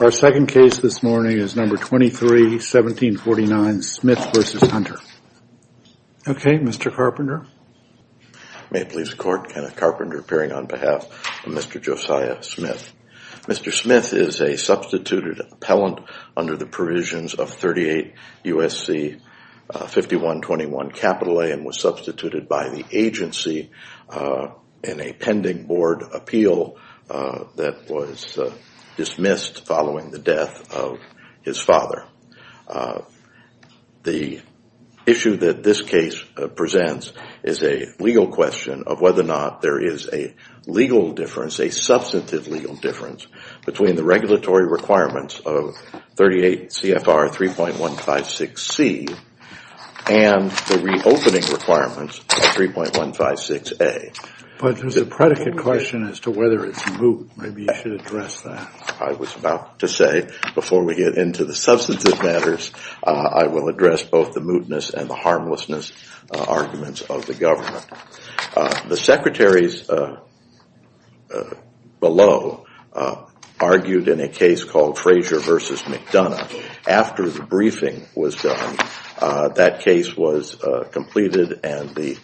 Our second case this morning is No. 23-1749, Smith v. Hunter. Okay, Mr. Carpenter. May it please the Court, Kenneth Carpenter appearing on behalf of Mr. Josiah Smith. Mr. Smith is a substituted appellant under the provisions of 38 U.S.C. 5121 A and was substituted by the agency in a pending board appeal that was dismissed following the death of his father. The issue that this case presents is a legal question of whether or not there is a legal difference, a substantive legal difference, between the regulatory requirements of 38 CFR 3.156 C and the reopening requirements of 3.156 A. But there's a predicate question as to whether it's moot. Maybe you should address that. I was about to say, before we get into the substantive matters, I will address both the mootness and the harmlessness arguments of the government. The secretaries below argued in a case called Frazier v. McDonough. After the briefing was done, that case was completed and the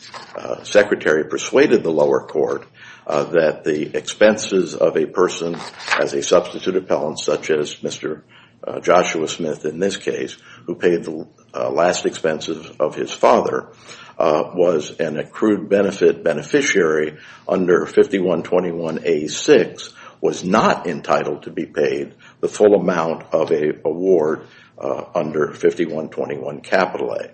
secretary persuaded the lower court that the expenses of a person as a substitute appellant, such as Mr. Joshua Smith in this case, who paid the last expenses of his father, was an accrued benefit beneficiary under 5121 A.6, was not entitled to be paid the full amount of an award under 5121 A.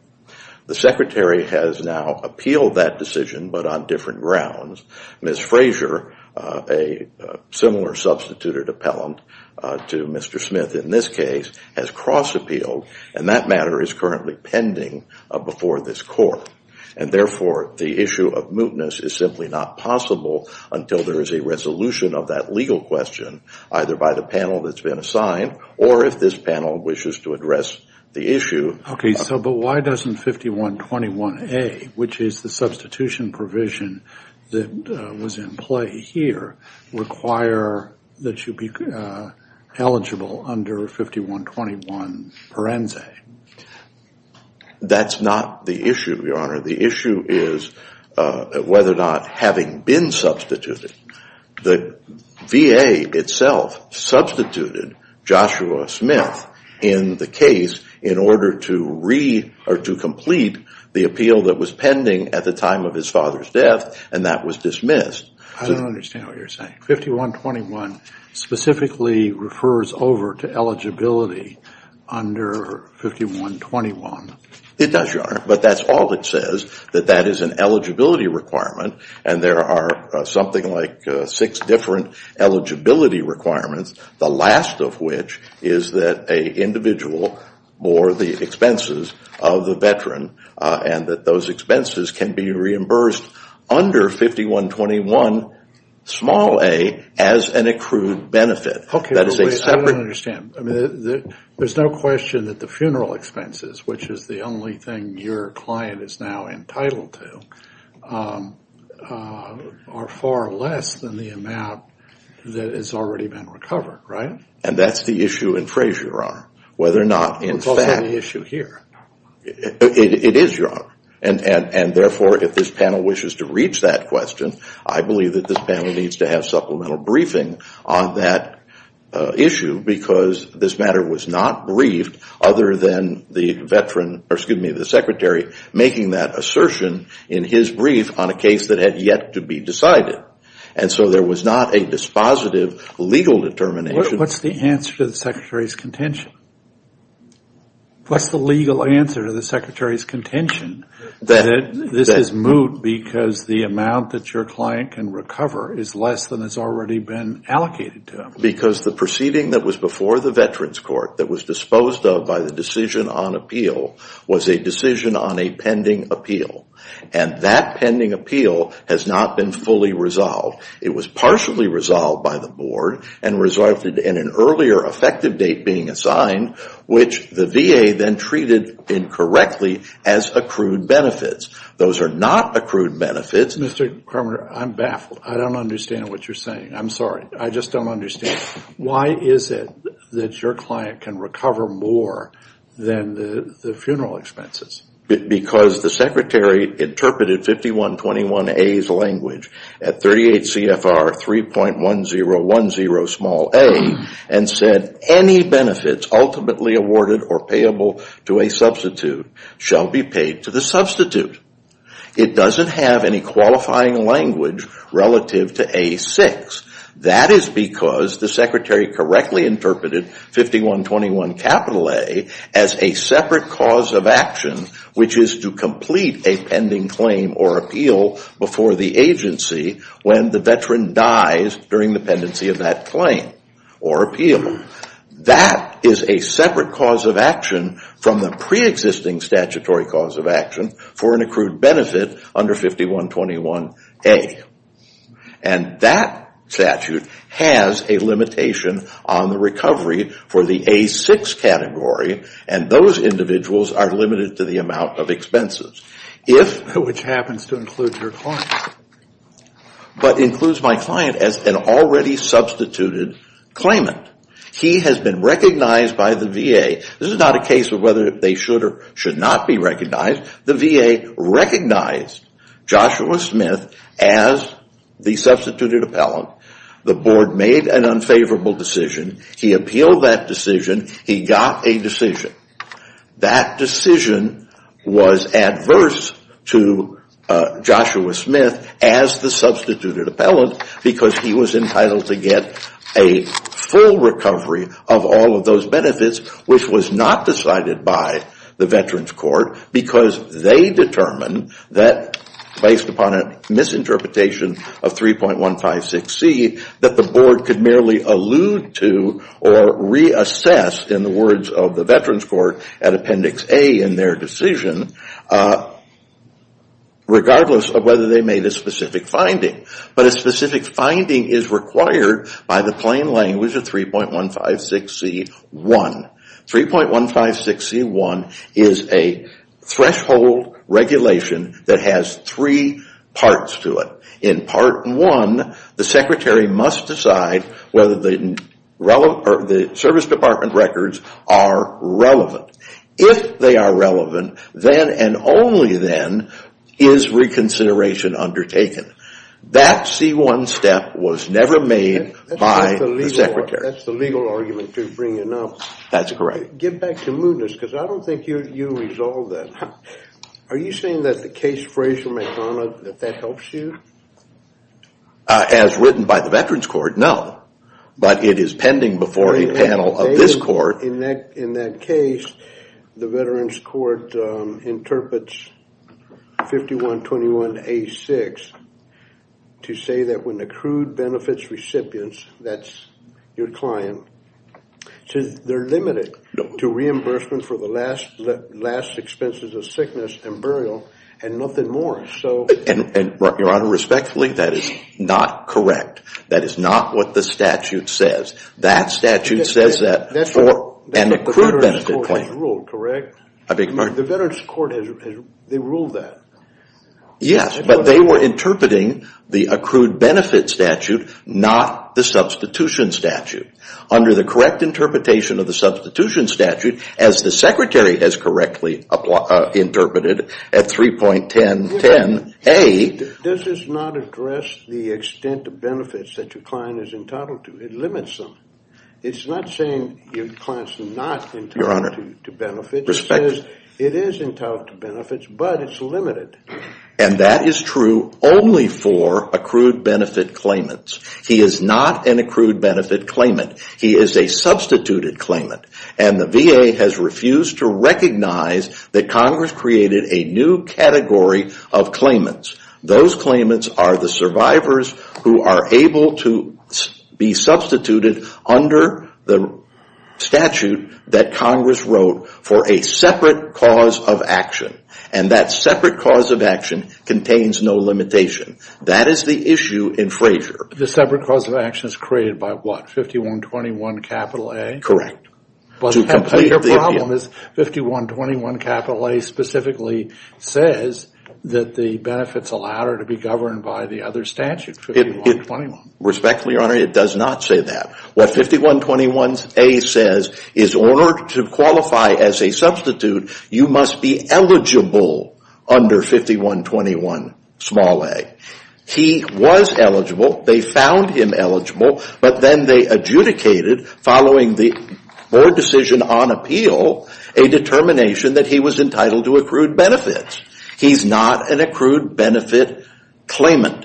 The secretary has now appealed that decision, but on different grounds. Ms. Frazier, a similar substituted appellant to Mr. Smith in this case, has cross-appealed and that matter is currently pending before this court. And therefore, the issue of mootness is simply not possible until there is a resolution of that legal question either by the panel that's been assigned or if this panel wishes to address the issue. OK, so but why doesn't 5121 A, which is the substitution provision that was in play here, require that you be eligible under 5121 Parense? That's not the issue, Your Honor. The issue is whether or not having been substituted, the VA itself substituted Joshua Smith in the case in order to complete the appeal that was pending at the time of his father's death and that was dismissed. I don't understand what you're saying. 5121 specifically refers over to eligibility under 5121. It does, Your Honor, but that's all it says, that that is an eligibility requirement and there are something like six different eligibility requirements, the last of which is that a individual or the expenses of the veteran and that those expenses can be reimbursed under 5121 small A as an accrued benefit. OK, I don't understand. I mean, there's no question that the funeral expenses, which is the only thing your client is now entitled to, are far less than the amount that has already been recovered, right? And that's the issue in Frazier, whether or not it's the issue here. It is, Your Honor, and therefore, if this panel wishes to reach that question, I believe that this panel needs to have supplemental briefing on that issue because this matter was not briefed other than the veteran, or excuse me, the secretary, making that assertion in his brief on a case that had yet to be decided. And so there was not a dispositive legal determination. What's the answer to the secretary's contention? What's the legal answer to the secretary's contention that this is moot because the amount that your client can recover is less than has already been allocated to him? Because the proceeding that was before the Veterans Court that was disposed of by the decision on appeal was a decision on a pending appeal, and that pending appeal has not been fully resolved. It was partially resolved by the board and resulted in an earlier effective date being assigned, which the VA then treated incorrectly as accrued benefits. Those are not accrued benefits. Mr. Kramer, I'm baffled. I don't understand what you're saying. I'm sorry. I just don't understand. Why is it that your client can recover more than the funeral expenses? Because the secretary interpreted 5121A's language at 38 CFR 3.1010a and said any benefits ultimately awarded or payable to a substitute shall be paid to the substitute. It doesn't have any qualifying language relative to A6. That is because the secretary correctly interpreted 5121A as a separate cause of action, which is to complete a pending claim or appeal before the agency when the veteran dies during the pendency of that claim or appeal. That is a separate cause of action from the preexisting statutory cause of action for an accrued benefit under 5121A. And that statute has a limitation on the recovery for the A6 category, and those individuals are limited to the amount of expenses. Which happens to include your client. But includes my client as an already substituted claimant. He has been recognized by the VA. This is not a case of whether they should or should not be recognized. The VA recognized Joshua Smith as the substituted appellant. The board made an unfavorable decision. He appealed that decision. He got a decision. That decision was adverse to Joshua Smith as the substituted appellant because he was entitled to get a full recovery of all of those benefits, which was not decided by the Veterans Court. Because they determined that based upon a misinterpretation of 3.156C that the board could merely allude to or reassess in the words of the Veterans Court at Appendix A in their decision. Regardless of whether they made a specific finding. But a specific finding is required by the plain language of 3.156C1. 3.156C1 is a threshold regulation that has three parts to it. In part one, the secretary must decide whether the service department records are relevant. If they are relevant, then and only then is reconsideration undertaken. That C1 step was never made by the secretary. That's the legal argument you're bringing up. That's correct. Get back to mootness because I don't think you resolved that. Are you saying that the case Frazier-McDonough, that that helps you? As written by the Veterans Court, no. But it is pending before a panel of this court. In that case, the Veterans Court interprets 5121A6 to say that when accrued benefits recipients, that's your client, they're limited to reimbursement for the last expenses of sickness and burial and nothing more. Your Honor, respectfully, that is not correct. That is not what the statute says. That statute says that for an accrued benefit claim. That's what the Veterans Court has ruled, correct? I beg your pardon? The Veterans Court has ruled that. Yes, but they were interpreting the accrued benefit statute, not the substitution statute. Under the correct interpretation of the substitution statute, as the secretary has correctly interpreted at 3.1010A. Does this not address the extent of benefits that your client is entitled to? It limits them. It's not saying your client's not entitled to benefits. It is entitled to benefits, but it's limited. And that is true only for accrued benefit claimants. He is not an accrued benefit claimant. He is a substituted claimant. And the VA has refused to recognize that Congress created a new category of claimants. Those claimants are the survivors who are able to be substituted under the statute that Congress wrote for a separate cause of action. And that separate cause of action contains no limitation. That is the issue in Frazier. The separate cause of action is created by what? 5121 capital A? Correct. Your problem is 5121 capital A specifically says that the benefits allowed are to be governed by the other statute, 5121. Respectfully, Your Honor, it does not say that. What 5121 A says is in order to qualify as a substitute, you must be eligible under 5121 small a. He was eligible. They found him eligible. But then they adjudicated following the board decision on appeal a determination that he was entitled to accrued benefits. He's not an accrued benefit claimant.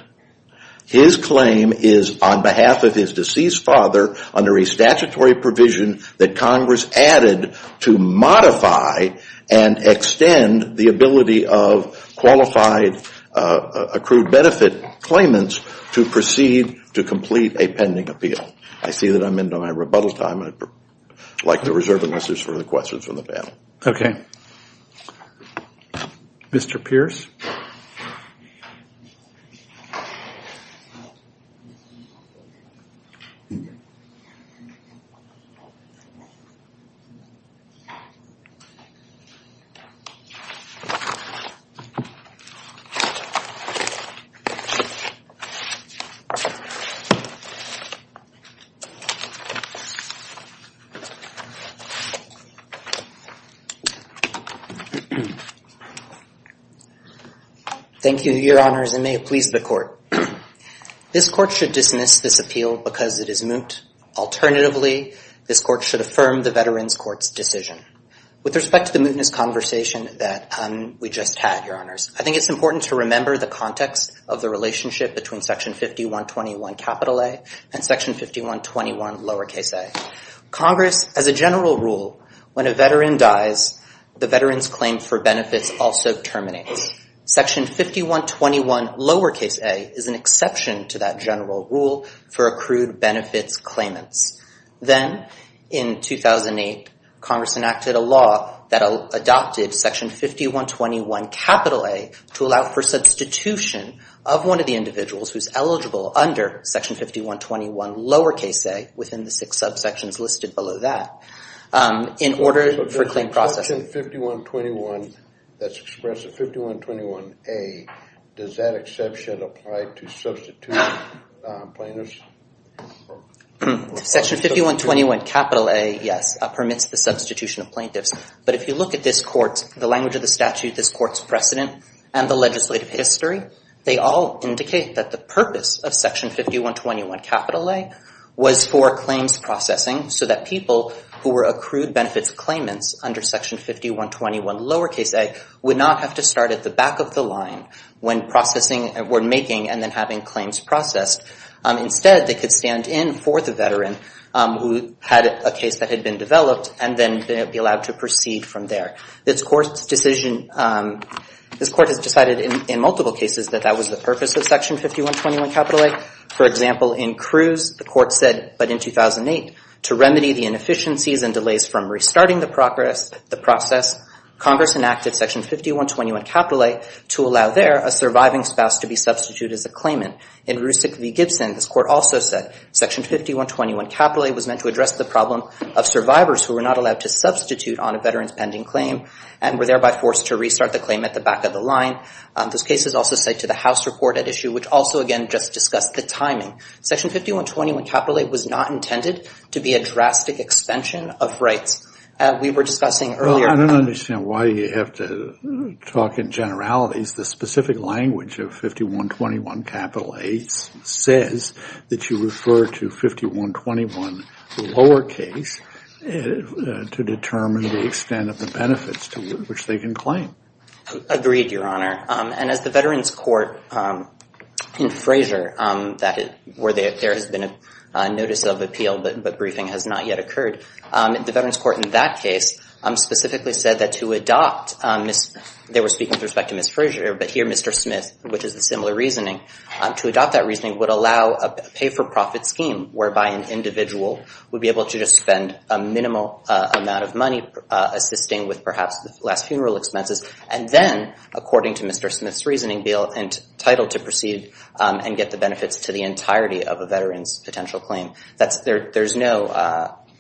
His claim is on behalf of his deceased father under a statutory provision that Congress added to modify and extend the ability of qualified accrued benefit claimants to proceed to complete a pending appeal. I see that I'm into my rebuttal time. I'd like to reserve the rest of the questions for the panel. Okay. Mr. Pierce. Thank you, Your Honors, and may it please the court. This court should dismiss this appeal because it is moot. Alternatively, this court should affirm the Veterans Court's decision. With respect to the mootness conversation that we just had, Your Honors, I think it's important to remember the context of the relationship between section 5121 capital A and section 5121 lowercase a. Congress, as a general rule, when a veteran dies, the veteran's claim for benefits also terminates. Section 5121 lowercase a is an exception to that general rule for accrued benefits claimants. Then, in 2008, Congress enacted a law that adopted section 5121 capital A to allow for substitution of one of the individuals who's eligible under section 5121 lowercase a within the six subsections listed below that in order for claim processing. Section 5121 that's expressed as 5121A, does that exception apply to substituting plaintiffs? Section 5121 capital A, yes, permits the substitution of plaintiffs. But if you look at this court, the language of the statute, this court's precedent, and the legislative history, they all indicate that the purpose of section 5121 capital A was for claims processing so that people who were accrued benefits claimants under section 5121 lowercase a would not have to start at the back of the line when processing or making and then having claims processed. Instead, they could stand in for the veteran who had a case that had been developed and then be allowed to proceed from there. This court's decision, this court has decided in multiple cases that that was the purpose of section 5121 capital A. For example, in Cruz, the court said, but in 2008, to remedy the inefficiencies and delays from restarting the process, Congress enacted section 5121 capital A to allow there a surviving spouse to be substituted as a claimant. In Rusick v. Gibson, this court also said section 5121 capital A was meant to address the problem of survivors who were not allowed to substitute on a veteran's pending claim and were thereby forced to restart the claim at the back of the line. This case is also set to the House report at issue, which also, again, just discussed the timing. Section 5121 capital A was not intended to be a drastic extension of rights. We were discussing earlier. I don't understand why you have to talk in generalities. The specific language of 5121 capital A says that you refer to 5121 lowercase to determine the extent of the benefits to which they can claim. Agreed, Your Honor. And as the Veterans Court in Fraser, where there has been a notice of appeal but briefing has not yet occurred, the Veterans Court in that case specifically said that to adopt, they were speaking with respect to Ms. Fraser, but here Mr. Smith, which is a similar reasoning, to adopt that reasoning would allow a pay-for-profit scheme, whereby an individual would be able to just spend a minimal amount of money assisting with perhaps the last funeral expenses, and then, according to Mr. Smith's reasoning, be entitled to proceed and get the benefits to the entirety of a veteran's potential claim.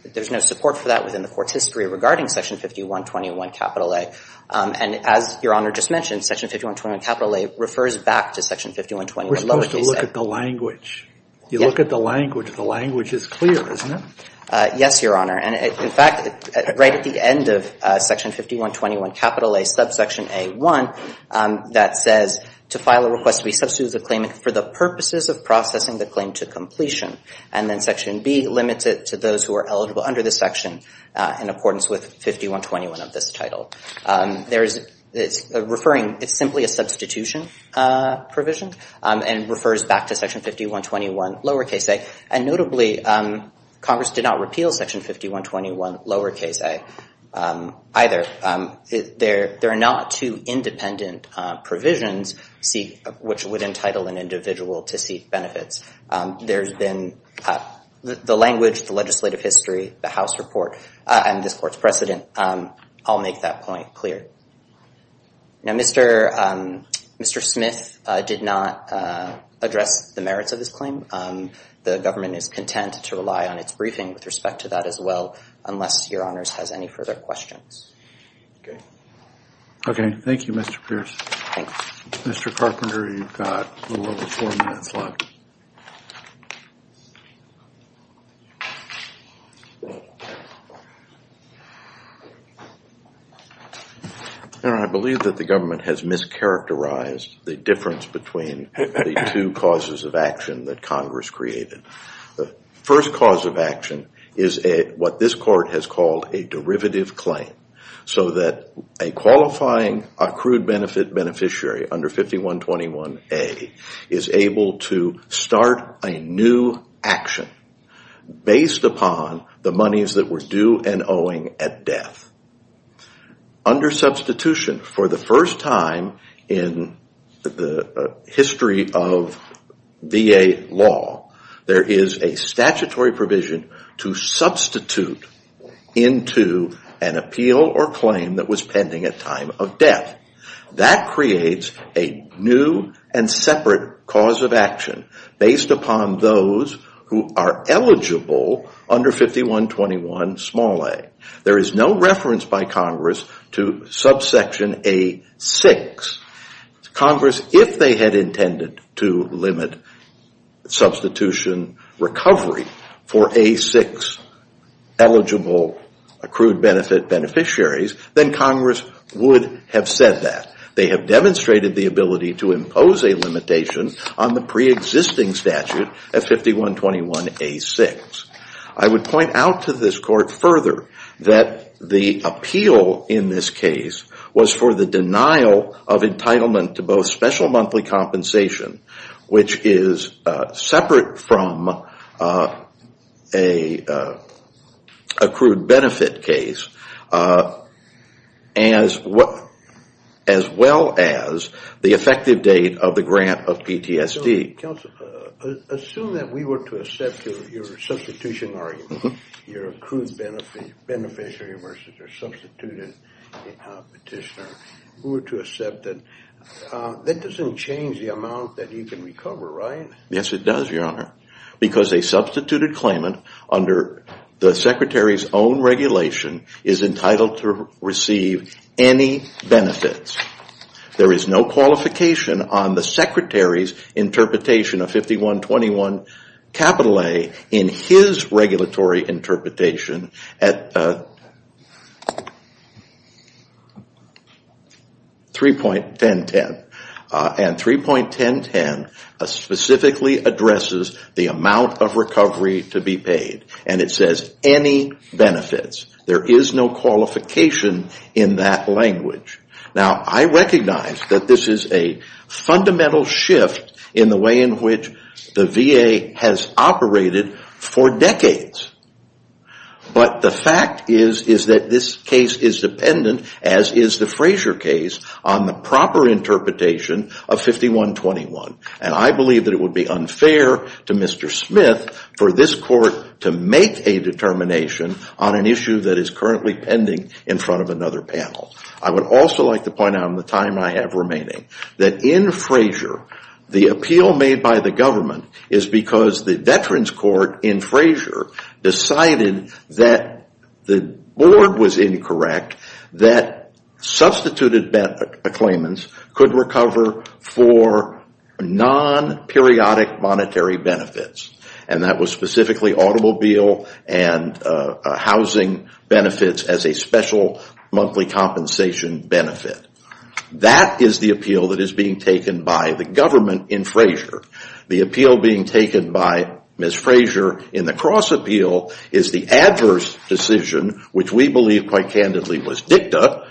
There's no support for that within the court's history regarding section 5121 capital A. And as Your Honor just mentioned, section 5121 capital A refers back to section 5121 lowercase. We're supposed to look at the language. You look at the language. The language is clear, isn't it? Yes, Your Honor. And in fact, right at the end of section 5121 capital A, subsection A1, that says, to file a request to be substituted as a claimant for the purposes of processing the claim to completion. And then section B limits it to those who are eligible under the section in accordance with 5121 of this title. It's simply a substitution provision, and it refers back to section 5121 lowercase a. And notably, Congress did not repeal section 5121 lowercase a either. There are not two independent provisions which would entitle an individual to seek benefits. There's been the language, the legislative history, the House report, and this court's precedent all make that point clear. Now, Mr. Smith did not address the merits of his claim. The government is content to rely on its briefing with respect to that as well, unless Your Honors has any further questions. Okay. Okay. Thank you, Mr. Pierce. Thanks. Mr. Carpenter, you've got a little over four minutes left. Your Honor, I believe that the government has mischaracterized the difference between the two causes of action that Congress created. The first cause of action is what this court has called a derivative claim, so that a qualifying accrued benefit beneficiary under 5121a is able to claim a derivative claim based upon the monies that were due and owing at death. Under substitution, for the first time in the history of VA law, there is a statutory provision to substitute into an appeal or claim that was pending at time of death. That creates a new and separate cause of action based upon those who are eligible under 5121a. There is no reference by Congress to subsection a6. Congress, if they had intended to limit substitution recovery for a6 eligible accrued benefit beneficiaries, then Congress would have said that. They have demonstrated the ability to impose a limitation on the preexisting statute at 5121a6. I would point out to this court further that the appeal in this case was for the denial of entitlement to both special monthly compensation, which is separate from an accrued benefit case, as well as the effective date of the grant of PTSD. Assume that we were to accept your substitution argument, your accrued beneficiary versus your substituted petitioner. That doesn't change the amount that you can recover, right? Yes, it does, Your Honor, because a substituted claimant under the Secretary's own regulation is entitled to receive any benefits. There is no qualification on the Secretary's interpretation of 5121A in his regulatory interpretation at 3.1010. 3.1010 specifically addresses the amount of recovery to be paid, and it says any benefits. There is no qualification in that language. Now, I recognize that this is a fundamental shift in the way in which the VA has operated for decades. But the fact is that this case is dependent, as is the Frazier case, on the proper interpretation of 5121. And I believe that it would be unfair to Mr. Smith for this court to make a determination on an issue that is currently pending in front of another panel. I would also like to point out in the time I have remaining that in Frazier, the appeal made by the government is because the Veterans Court in Frazier decided that the board was incorrect, that substituted claimants could recover for non-periodic monetary benefits. And that was specifically automobile and housing benefits as a special monthly compensation benefit. That is the appeal that is being taken by the government in Frazier. The appeal being taken by Ms. Frazier in the cross appeal is the adverse decision, which we believe quite candidly was dicta,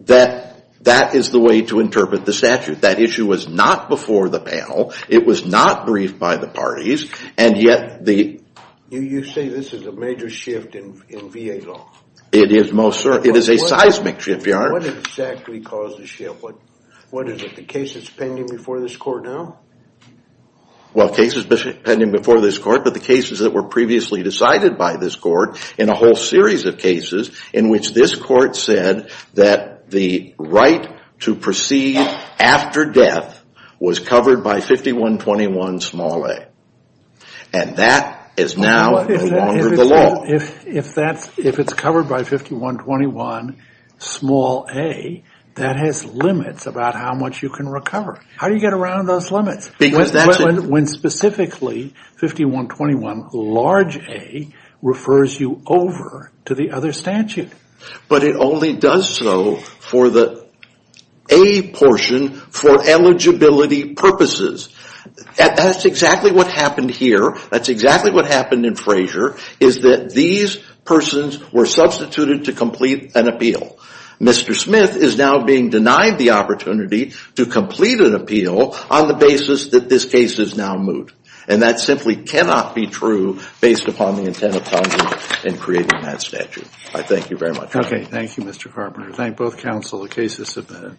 that that is the way to interpret the statute. That issue was not before the panel. It was not briefed by the parties. And yet the... You say this is a major shift in VA law. It is, most certainly. It is a seismic shift, Your Honor. What exactly caused the shift? What is it, the cases pending before this court now? Well, cases pending before this court, but the cases that were previously decided by this court in a whole series of cases in which this court said that the right to proceed after death was covered by 5121 small a. And that is now no longer the law. If it's covered by 5121 small a, that has limits about how much you can recover. How do you get around those limits? When specifically 5121 large a refers you over to the other statute. But it only does so for the a portion for eligibility purposes. That's exactly what happened here. That's exactly what happened in Frazier, is that these persons were substituted to complete an appeal. Mr. Smith is now being denied the opportunity to complete an appeal on the basis that this case is now moot. And that simply cannot be true based upon the intent of Congress in creating that statute. I thank you very much. Okay. Thank you, Mr. Carpenter. Thank both counsel. The case is submitted.